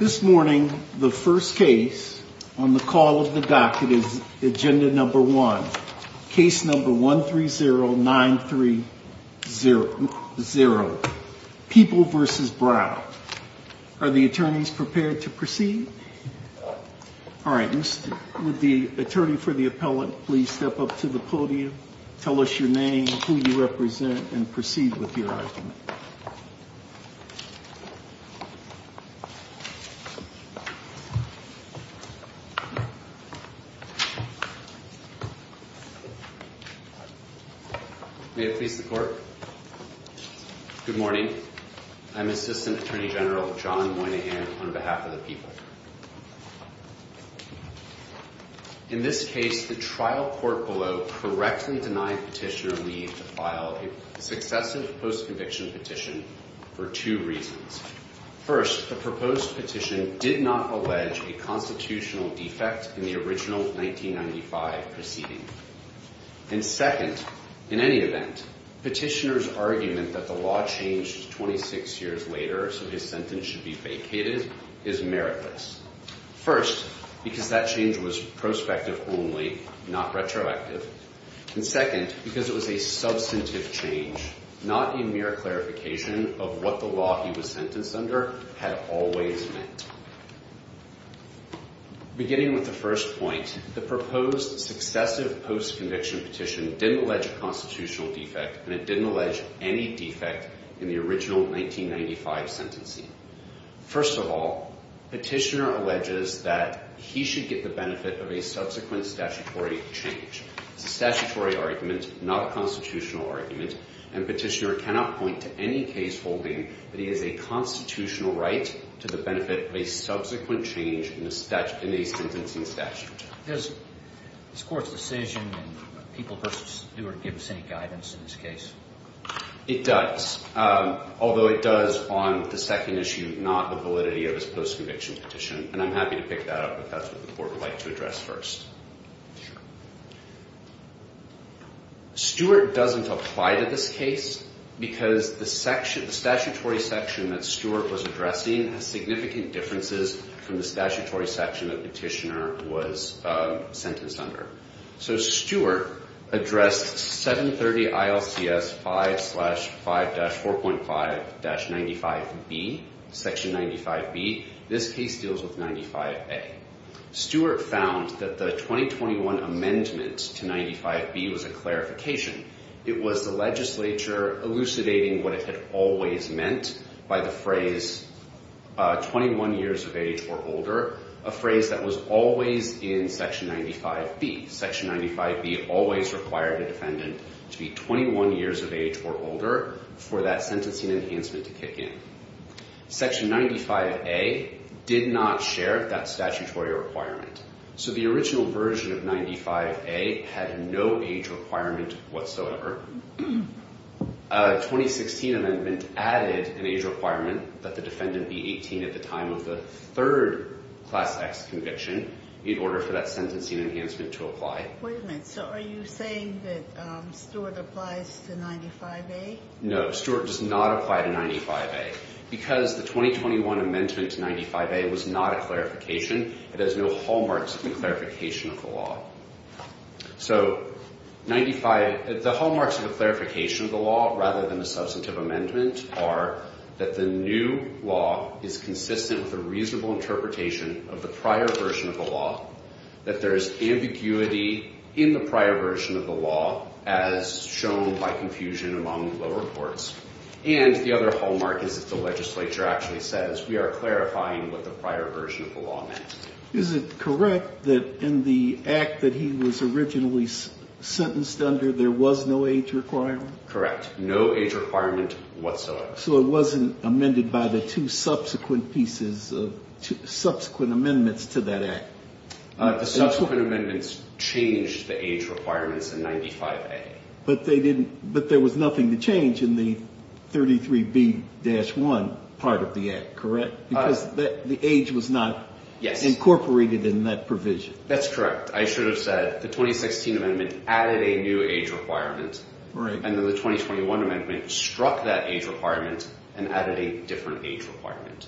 This morning, the first case on the call of the docket is agenda number one. Case number one three zero nine three zero zero people versus Brown. Are the attorneys prepared to proceed? All right. Would the attorney for the appellate please step up to the podium? Tell us your name, who you represent and proceed with your argument. May it please the court. Good morning. I'm Assistant Attorney General John Moynihan on behalf of the people. In this case, the trial court below correctly denied petitioner Lee to file a successive post-conviction petition for two reasons. First, the proposed petition did not allege a constitutional defect in the original 1995 proceeding. And second, in any event, petitioner's argument that the law changed 26 years later so his sentence should be vacated is meritless. First, because that change was prospective only, not retroactive. And second, because it was a substantive change, not a mere clarification of what the law he was sentenced under had always meant. Beginning with the first point, the proposed successive post-conviction petition didn't allege a constitutional defect and it didn't allege any defect in the original 1995 sentencing. First of all, petitioner alleges that he should get the benefit of a subsequent statutory change. It's a statutory argument, not a constitutional argument. And petitioner cannot point to any case holding that he has a constitutional right to the benefit of a subsequent change in a sentencing statute. Does this Court's decision in People v. Stewart give us any guidance in this case? It does, although it does on the second issue, not the validity of his post-conviction petition. And I'm happy to pick that up if that's what the Court would like to address first. Sure. Stewart doesn't apply to this case because the statutory section that Stewart was addressing has significant differences from the statutory section that petitioner was sentenced under. So Stewart addressed 730 ILCS 5-4.5-95B, Section 95B. This case deals with 95A. Stewart found that the 2021 amendment to 95B was a clarification. It was the legislature elucidating what it had always meant by the phrase 21 years of age or older, a phrase that was always in Section 95B. Section 95B always required a defendant to be 21 years of age or older for that sentencing enhancement to kick in. Section 95A did not share that statutory requirement. So the original version of 95A had no age requirement whatsoever. A 2016 amendment added an age requirement that the defendant be 18 at the time of the third Class X conviction in order for that sentencing enhancement to apply. Wait a minute. So are you saying that Stewart applies to 95A? No. Stewart does not apply to 95A. Because the 2021 amendment to 95A was not a clarification, it has no hallmarks of a clarification of the law. So 95—the hallmarks of a clarification of the law rather than a substantive amendment are that the new law is consistent with a reasonable interpretation of the prior version of the law, that there is ambiguity in the prior version of the law as shown by confusion among the reports. And the other hallmark is that the legislature actually says we are clarifying what the prior version of the law meant. Is it correct that in the act that he was originally sentenced under, there was no age requirement? Correct. No age requirement whatsoever. So it wasn't amended by the two subsequent pieces of—subsequent amendments to that act. The subsequent amendments changed the age requirements in 95A. But they didn't—but there was nothing to change in the 33B-1 part of the act, correct? Because the age was not incorporated in that provision. That's correct. I should have said the 2016 amendment added a new age requirement. Right. And then the 2021 amendment struck that age requirement and added a different age requirement.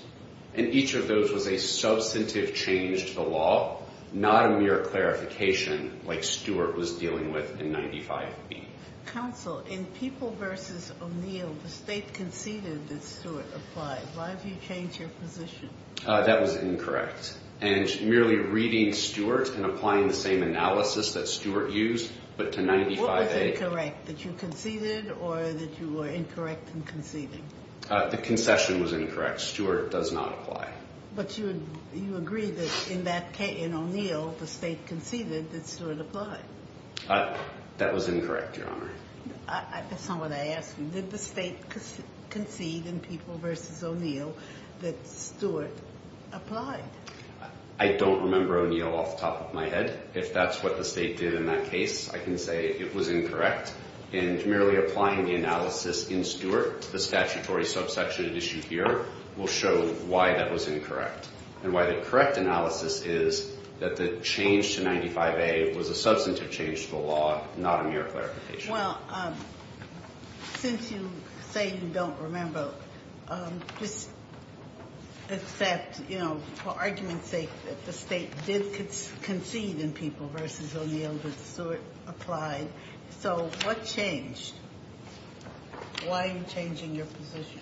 And each of those was a substantive change to the law, not a mere clarification like Stewart was dealing with in 95B. Counsel, in People v. O'Neill, the State conceded that Stewart applied. Why have you changed your position? That was incorrect. And merely reading Stewart and applying the same analysis that Stewart used, but to 95A— What was incorrect, that you conceded or that you were incorrect in conceding? The concession was incorrect. Stewart does not apply. But you agree that in that—in O'Neill, the State conceded that Stewart applied. That was incorrect, Your Honor. That's not what I asked. Did the State concede in People v. O'Neill that Stewart applied? I don't remember O'Neill off the top of my head. If that's what the State did in that case, I can say it was incorrect. And merely applying the analysis in Stewart, the statutory subsection it issued here, will show why that was incorrect. And why the correct analysis is that the change to 95A was a substantive change to the law, not a mere clarification. Well, since you say you don't remember, just accept, you know, for argument's sake, that the State did concede in People v. O'Neill that Stewart applied. So what changed? Why are you changing your position?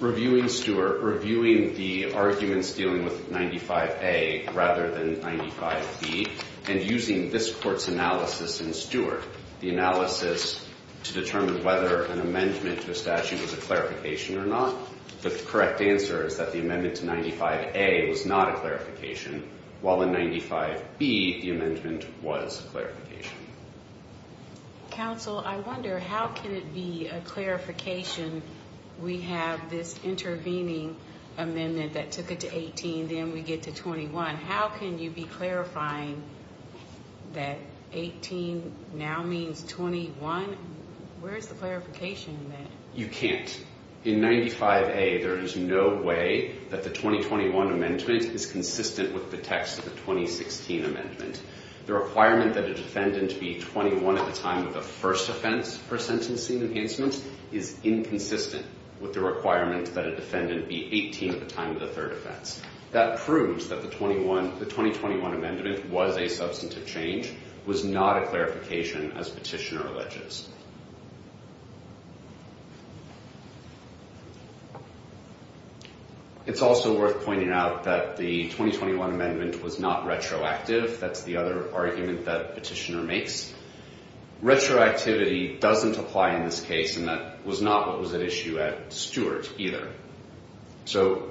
Reviewing Stewart, reviewing the arguments dealing with 95A rather than 95B, and using this Court's analysis in Stewart, the analysis to determine whether an amendment to a statute is a clarification or not, the correct answer is that the amendment to 95A was not a clarification, while in 95B the amendment was a clarification. Counsel, I wonder, how can it be a clarification? We have this intervening amendment that took it to 18, then we get to 21. How can you be clarifying that 18 now means 21? Where is the clarification in that? You can't. In 95A, there is no way that the 2021 amendment is consistent with the text of the 2016 amendment. The requirement that a defendant be 21 at the time of the first offense per sentencing enhancement is inconsistent with the requirement that a defendant be 18 at the time of the third offense. That proves that the 2021 amendment was a substantive change, was not a clarification as petitioner alleges. It's also worth pointing out that the 2021 amendment was not retroactive. That's the other argument that petitioner makes. Retroactivity doesn't apply in this case, and that was not what was at issue at Stewart either. So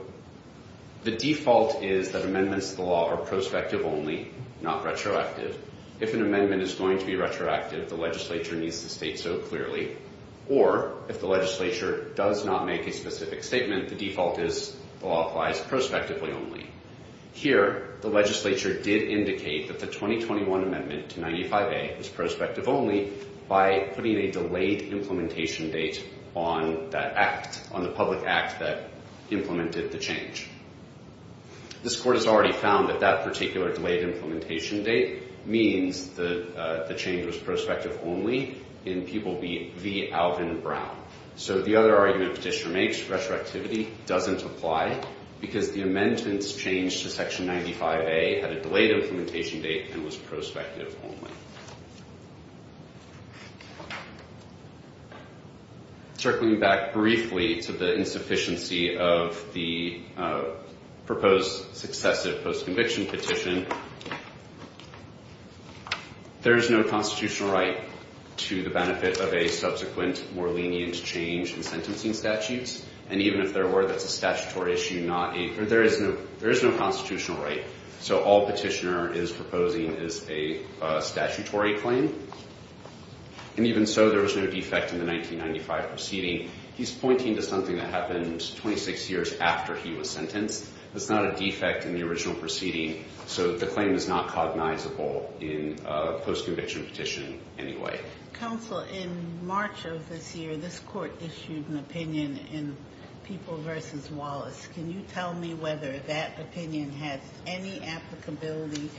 the default is that amendments to the law are prospective only, not retroactive. If an amendment is going to be retroactive, the legislature needs to state so clearly, or if the legislature does not make a specific statement, the default is the law applies prospectively only. Here, the legislature did indicate that the 2021 amendment to 95A is prospective only by putting a delayed implementation date on that act, on the public act that implemented the change. This court has already found that that particular delayed implementation date means that the change was prospective only in people v. Alvin Brown. So the other argument petitioner makes, retroactivity doesn't apply because the amendments change to section 95A had a delayed implementation date and was prospective only. Circling back briefly to the insufficiency of the proposed successive post-conviction petition, there is no constitutional right to the benefit of a subsequent more lenient change in sentencing statutes. And even if there were, that's a statutory issue, there is no constitutional right. So all petitioner is proposing is a statutory claim. And even so, there was no defect in the 1995 proceeding. He's pointing to something that happened 26 years after he was sentenced. That's not a defect in the original proceeding, so the claim is not cognizable in a post-conviction petition anyway. Counsel, in March of this year, this court issued an opinion in People v. Wallace. Can you tell me whether that opinion has any applicability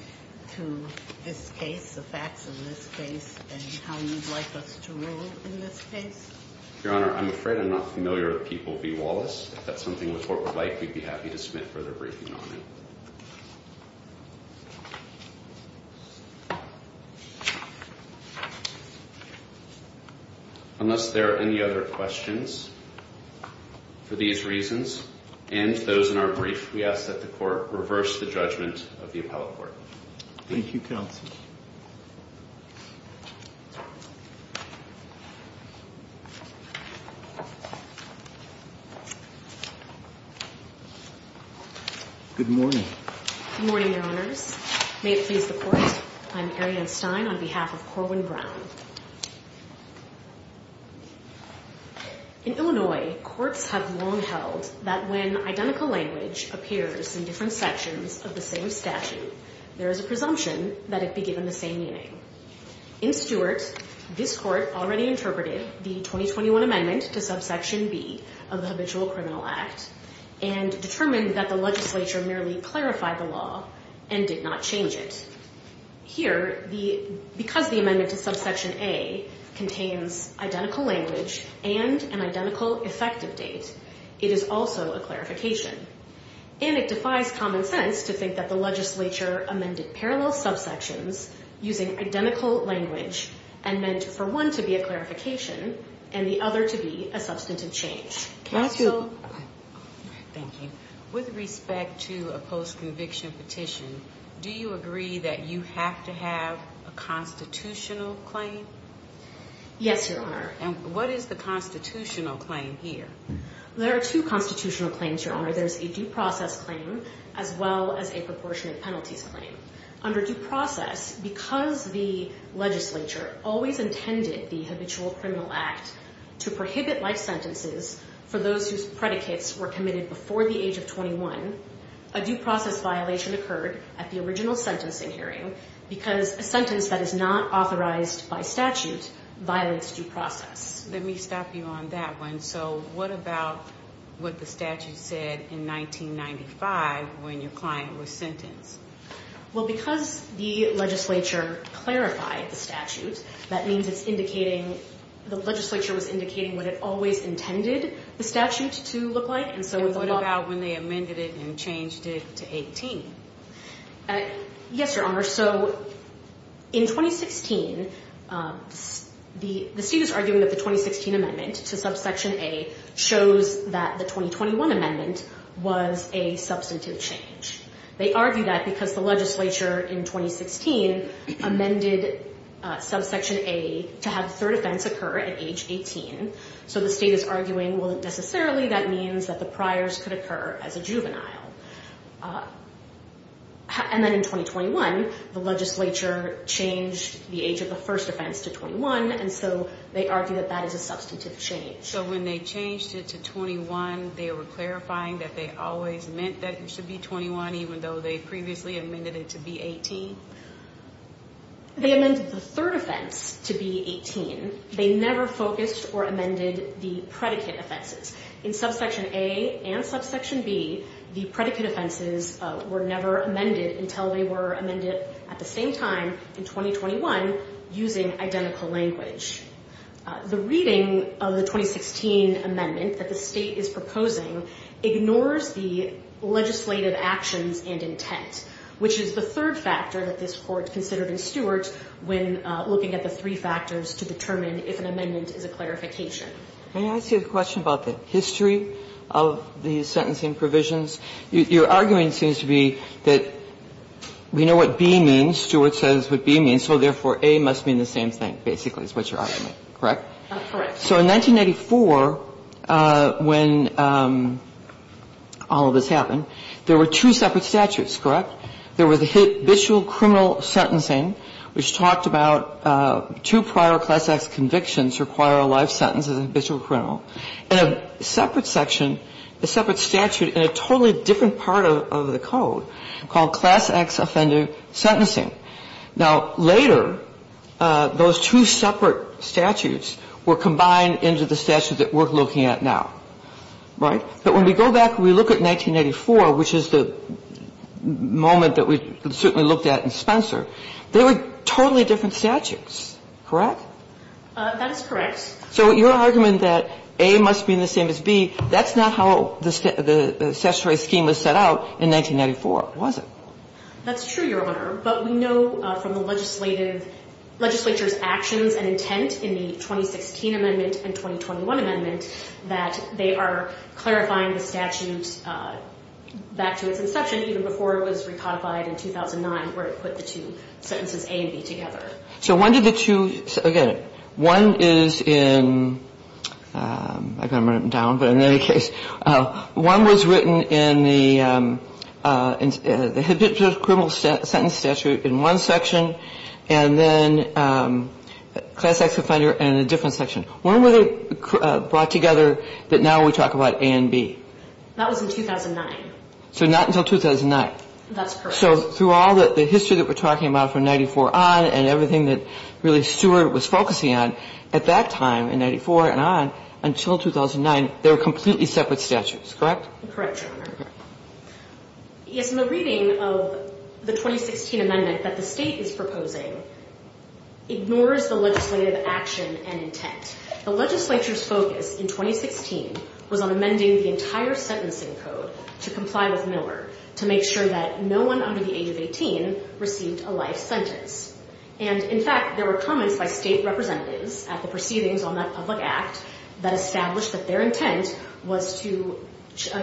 to this case, the facts of this case, and how you'd like us to rule in this case? Your Honor, I'm afraid I'm not familiar with People v. Wallace. If that's something the court would like, we'd be happy to submit further briefing on it. Unless there are any other questions for these reasons and those in our brief, we ask that the court reverse the judgment of the appellate court. Thank you, counsel. Good morning. Good morning, Your Honors. May it please the court, I'm Arianne Stein on behalf of Corwin Brown. In Illinois, courts have long held that when identical language appears in different sections of the same statute, there is a presumption that it be given the same meaning. In Stewart, this court already interpreted the 2021 amendment to subsection B of the Habitual Criminal Act and determined that the legislature merely clarified the law and did not change it. Here, because the amendment to subsection A contains identical language and an identical effective date, it is also a clarification. And it defies common sense to think that the legislature amended parallel subsections using identical language and meant for one to be a clarification and the other to be a substantive change. Counsel? Thank you. With respect to a post-conviction petition, do you agree that you have to have a constitutional claim? Yes, Your Honor. And what is the constitutional claim here? There are two constitutional claims, Your Honor. There's a due process claim as well as a proportionate penalties claim. Under due process, because the legislature always intended the Habitual Criminal Act to prohibit life sentences for those whose predicates were committed before the age of 21, a due process violation occurred at the original sentencing hearing because a sentence that is not authorized by statute violates due process. Let me stop you on that one. So what about what the statute said in 1995 when your client was sentenced? Well, because the legislature clarified the statute, that means it's indicating the legislature was indicating what it always intended the statute to look like. And what about when they amended it and changed it to 18? Yes, Your Honor. So in 2016, the state is arguing that the 2016 amendment to subsection A shows that the 2021 amendment was a substantive change. They argue that because the legislature in 2016 amended subsection A to have the third offense occur at age 18. So the state is arguing, well, necessarily that means that the priors could occur as a juvenile. And then in 2021, the legislature changed the age of the first offense to 21, and so they argue that that is a substantive change. So when they changed it to 21, they were clarifying that they always meant that it should be 21, even though they previously amended it to be 18? They amended the third offense to be 18. They never focused or amended the predicate offenses. In subsection A and subsection B, the predicate offenses were never amended until they were amended at the same time in 2021 using identical language. The reading of the 2016 amendment that the state is proposing ignores the legislative actions and intent, which is the third factor that this Court considered in Stewart when looking at the three factors to determine if an amendment is a clarification. May I ask you a question about the history of the sentencing provisions? Your argument seems to be that we know what B means. Stewart says what B means. So therefore, A must mean the same thing, basically, is what you're arguing. Correct? Correct. So in 1994, when all of this happened, there were two separate statutes, correct? There was habitual criminal sentencing, which talked about two prior Class X convictions require a life sentence as a habitual criminal, and a separate section, a separate statute in a totally different part of the code called Class X Offender Sentencing. Now, later, those two separate statutes were combined into the statute that we're looking at now, right? But when we go back and we look at 1984, which is the moment that we certainly looked at in Spencer, they were totally different statutes, correct? That is correct. So your argument that A must mean the same as B, that's not how the statutory scheme was set out in 1994, was it? That's true, Your Honor. But we know from the legislative legislature's actions and intent in the 2016 amendment and 2021 amendment that they are clarifying the statute back to its inception, even before it was recodified in 2009, where it put the two sentences A and B together. So when did the two, again, one is in, I've got to write them down, but in any case, one was written in the habitual criminal sentence statute in one section, and then Class X Offender in a different section. When were they brought together that now we talk about A and B? That was in 2009. So not until 2009. That's correct. So through all the history that we're talking about from 94 on and everything that really Stewart was focusing on, at that time in 94 and on until 2009, they were completely separate statutes, correct? Correct, Your Honor. Yes, and the reading of the 2016 amendment that the State is proposing ignores the The legislature's focus in 2016 was on amending the entire sentencing code to comply with Miller to make sure that no one under the age of 18 received a life sentence. And, in fact, there were comments by State representatives at the proceedings on that public act that established that their intent was to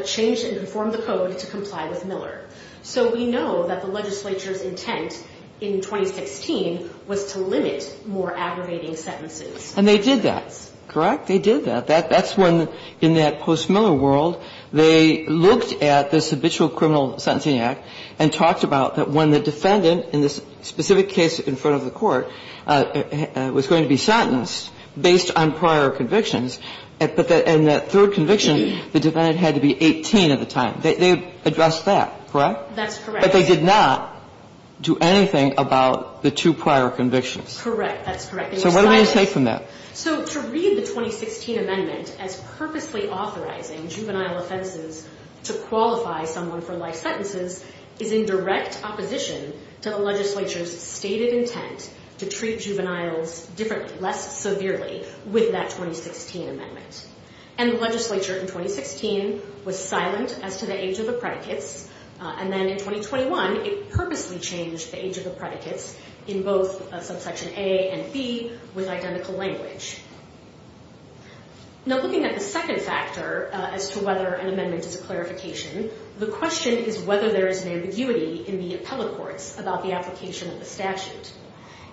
change and inform the code to comply with Miller. So we know that the legislature's intent in 2016 was to limit more aggravating sentences. And they did that, correct? They did that. That's when, in that post-Miller world, they looked at this habitual criminal sentencing act and talked about that when the defendant in this specific case in front of the court was going to be sentenced based on prior convictions, and that third conviction, the defendant had to be 18 at the time. They addressed that, correct? That's correct. But they did not do anything about the two prior convictions. Correct. That's correct. So what do we take from that? So to read the 2016 amendment as purposely authorizing juvenile offenses to qualify someone for life sentences is in direct opposition to the legislature's stated intent to treat juveniles differently, less severely, with that 2016 amendment. And the legislature in 2016 was silent as to the age of the predicates, and then in 2021 it purposely changed the age of the predicates in both subsection A and B with identical language. Now, looking at the second factor as to whether an amendment is a clarification, the question is whether there is an ambiguity in the appellate courts about the application of the statute.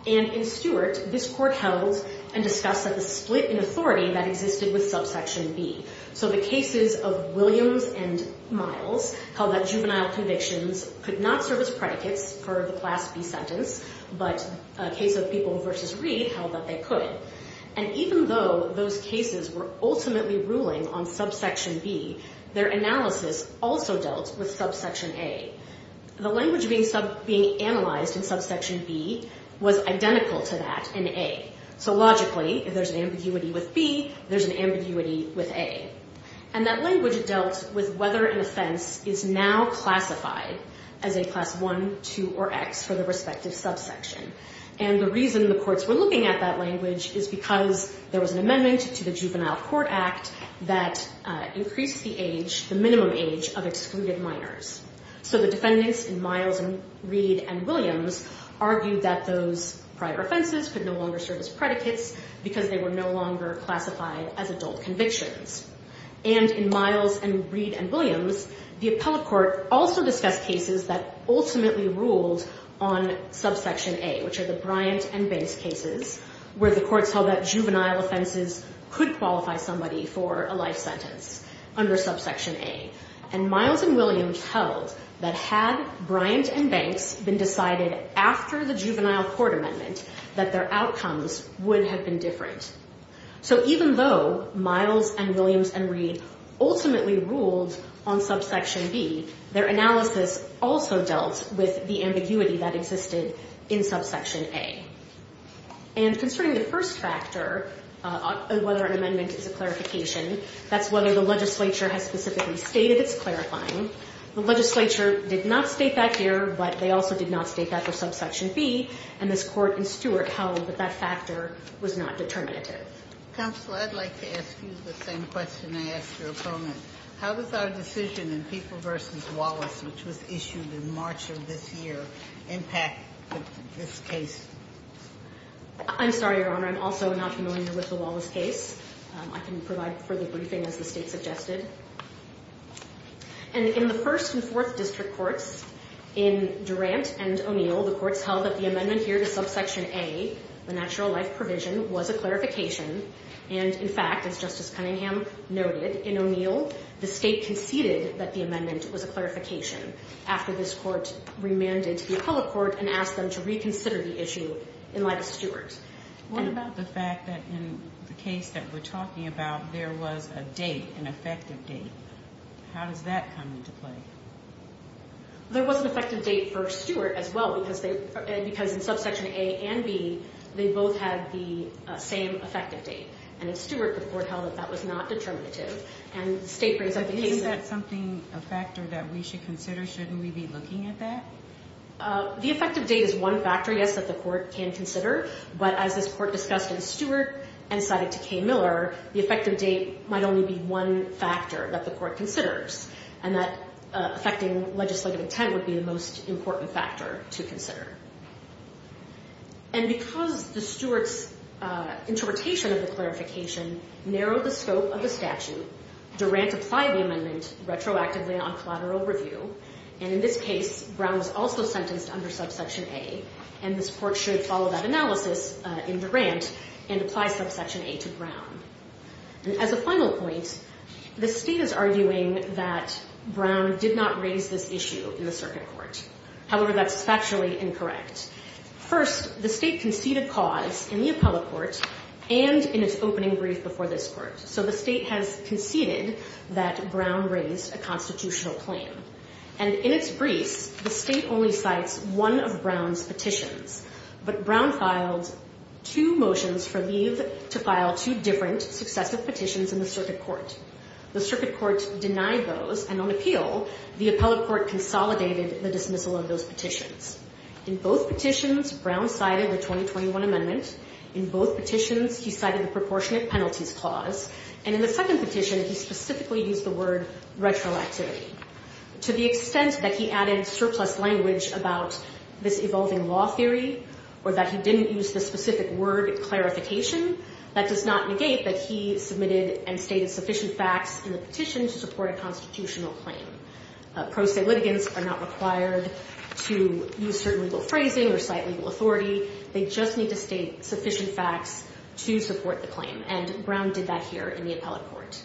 And in Stewart, this court held and discussed that the split in authority that existed with subsection B. So the cases of Williams and Miles held that juvenile convictions could not serve as predicates for the class B sentence, but a case of people versus Reed held that they could. And even though those cases were ultimately ruling on subsection B, their analysis also dealt with subsection A. The language being analyzed in subsection B was identical to that in A. So logically, if there's an ambiguity with B, there's an ambiguity with A. And that language dealt with whether an offense is now classified as a class 1, 2, or X for the respective subsection. And the reason the courts were looking at that language is because there was an amendment to the Juvenile Court Act that increased the age, the minimum age of excluded minors. So the defendants in Miles and Reed and Williams argued that those prior offenses could no longer serve as predicates because they were no longer classified as And in Miles and Reed and Williams, the appellate court also discussed cases that ultimately ruled on subsection A, which are the Bryant and Banks cases, where the courts held that juvenile offenses could qualify somebody for a life sentence under subsection A. And Miles and Williams held that had Bryant and Banks been decided after the Juvenile Court Amendment, that their outcomes would have been different. So even though Miles and Williams and Reed ultimately ruled on subsection B, their analysis also dealt with the ambiguity that existed in subsection A. And concerning the first factor, whether an amendment is a clarification, that's whether the legislature has specifically stated it's clarifying. The legislature did not state that here, but they also did not state that for subsection B, and this court in Stewart held that that factor was not determinative. Counsel, I'd like to ask you the same question I asked your opponent. How does our decision in People v. Wallace, which was issued in March of this year, impact this case? I'm sorry, Your Honor, I'm also not familiar with the Wallace case. I can provide further briefing as the state suggested. And in the first and fourth district courts, in Durant and O'Neill, the courts held that the amendment here to subsection A, the natural life provision, was a clarification. And, in fact, as Justice Cunningham noted, in O'Neill, the state conceded that the amendment was a clarification after this court remanded to the Appellate Court and asked them to reconsider the issue in light of Stewart. What about the fact that in the case that we're talking about, there was a date, an effective date? How does that come into play? There was an effective date for Stewart as well, because in subsection A and B, they both had the same effective date. And in Stewart, the court held that that was not determinative. And the state brings up the case that... Isn't that something, a factor that we should consider? Shouldn't we be looking at that? The effective date is one factor, yes, that the court can consider. But as this court discussed in Stewart and cited to K. Miller, the effective date might only be one factor that the court considers. And that affecting legislative intent would be the most important factor to consider. And because the Stewart's interpretation of the clarification narrowed the scope of the statute, Durant applied the amendment retroactively on collateral review. And in this case, Brown was also sentenced under subsection A. And this court should follow that analysis in Durant and apply subsection A to Brown. As a final point, the state is arguing that Brown did not raise this issue in the circuit court. However, that's factually incorrect. First, the state conceded cause in the appellate court and in its opening brief before this court. So the state has conceded that Brown raised a constitutional claim. And in its briefs, the state only cites one of Brown's petitions. But Brown filed two motions for leave to file two different successive petitions in the circuit court. The circuit court denied those, and on appeal, the appellate court consolidated the dismissal of those petitions. In both petitions, Brown cited the 2021 amendment. In both petitions, he cited the proportionate penalties clause. And in the second petition, he specifically used the word retroactivity. To the extent that he added surplus language about this evolving law theory, or that he didn't use the specific word clarification, that does not negate that he submitted and stated sufficient facts in the petition to support a constitutional claim. Pro se litigants are not required to use certain legal phrasing or cite legal authority. They just need to state sufficient facts to support the claim. And Brown did that here in the appellate court.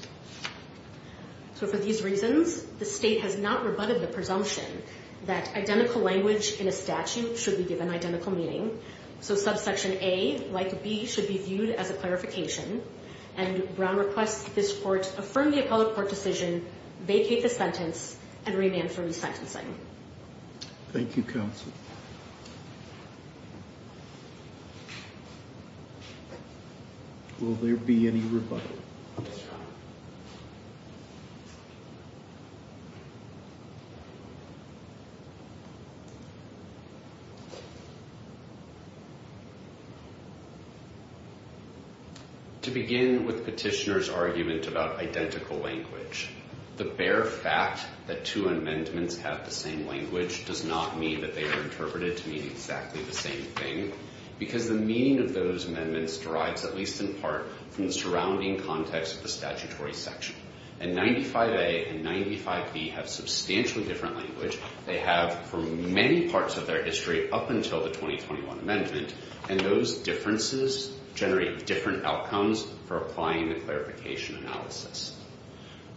So for these reasons, the state has not rebutted the presumption that identical language in a statute should be given identical meaning. So subsection A, like B, should be viewed as a clarification. And Brown requests this court affirm the appellate court decision, vacate the sentence, and remand for resentencing. Thank you, counsel. Will there be any rebuttal? To begin with petitioner's argument about identical language, the bare fact that two amendments have the same language does not mean that they are interpreted to mean exactly the same thing, because the meaning of those amendments derives, at least in part, from the surrounding context of the statutory section. And 95A and 95B have substantially different language. They have, for many parts of their history up until the 2021 amendment, and those differences generate different outcomes for applying the clarification analysis.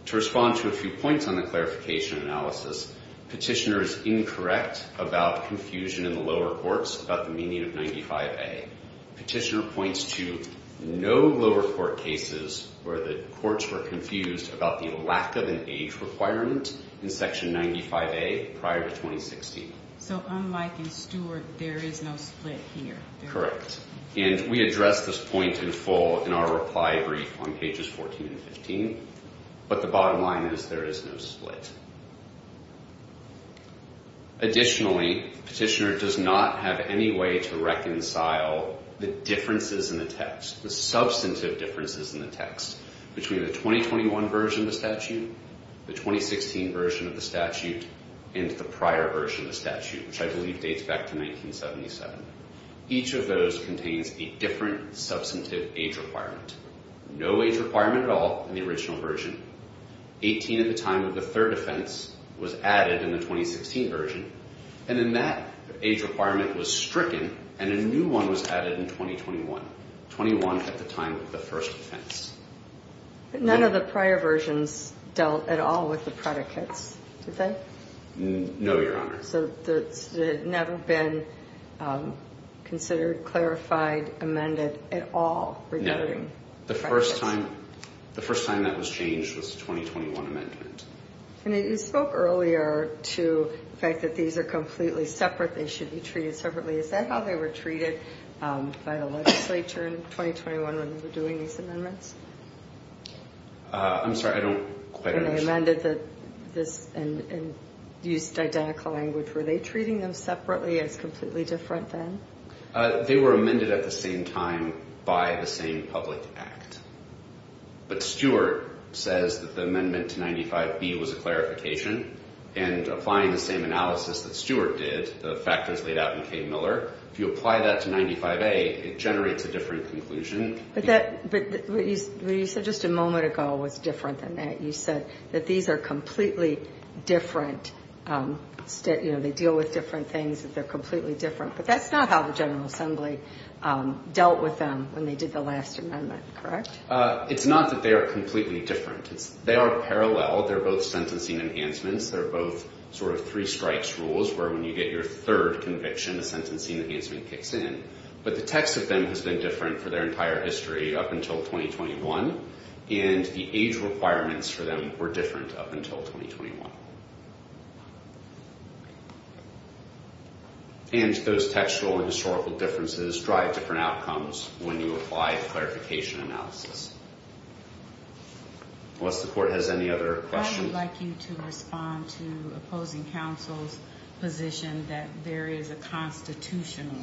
To respond to a few points on the clarification analysis, petitioner is incorrect about confusion in the lower courts about the meaning of 95A. Petitioner points to no lower court cases where the courts were confused about the lack of an age requirement in section 95A prior to 2016. So unlike in Stewart, there is no split here. Correct. And we address this point in full in our reply brief on pages 14 and 15. But the bottom line is there is no split. Additionally, petitioner does not have any way to reconcile the differences in the text, the substantive differences in the text between the 2021 version of the statute, the 2016 version of the statute, and the prior version of the statute, which I believe dates back to 1977. Each of those contains a different substantive age requirement. No age requirement at all in the original version. 18 at the time of the third offense was added in the 2016 version, and then that age requirement was stricken and a new one was added in 2021. 21 at the time of the first offense. But none of the prior versions dealt at all with the predicates, did they? No, Your Honor. So it had never been considered, clarified, amended at all regarding predicates? No. The first time that was changed was the 2021 amendment. And you spoke earlier to the fact that these are completely separate, they should be treated separately. Is that how they were treated by the legislature in 2021 when they were doing these amendments? I'm sorry, I don't quite understand. When they amended this and used identical language, were they treating them separately as completely different then? They were amended at the same time by the same public act. But Stewart says that the amendment to 95B was a clarification, and applying the same analysis that Stewart did, the factors laid out in K. Miller. If you apply that to 95A, it generates a different conclusion. But what you said just a moment ago was different than that. You said that these are completely different. They deal with different things, that they're completely different. But that's not how the General Assembly dealt with them when they did the last amendment, correct? It's not that they are completely different. They are parallel. They're both sentencing enhancements. They're both sort of three-strikes rules, where when you get your third conviction, the sentencing enhancement kicks in. But the text of them has been different for their entire history up until 2021, and the age requirements for them were different up until 2021. And those textual and historical differences drive different outcomes when you apply the clarification analysis. Unless the Court has any other questions. I would like you to respond to opposing counsel's position that there is a constitutional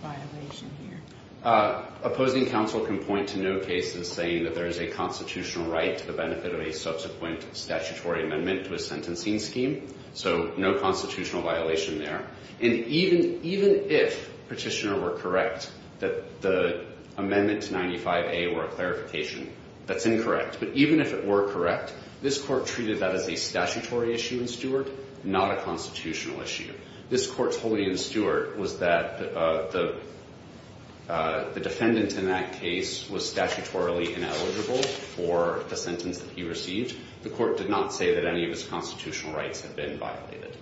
violation here. Opposing counsel can point to no cases saying that there is a constitutional right to the benefit of a subsequent statutory amendment to a sentencing scheme, so no constitutional violation there. And even if Petitioner were correct that the amendment to 95A were a clarification, that's incorrect. But even if it were correct, this Court treated that as a statutory issue in Stewart, not a constitutional issue. This Court's holding in Stewart was that the defendant in that case was statutorily ineligible for the sentence that he received. The Court did not say that any of his constitutional rights had been violated.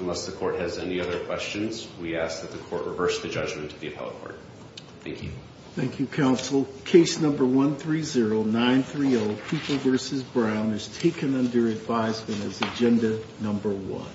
Unless the Court has any other questions, we ask that the Court reverse the judgment of the appellate court. Thank you. Thank you, counsel. Case number 130930, Cooper v. Brown, is taken under advisement as agenda number one.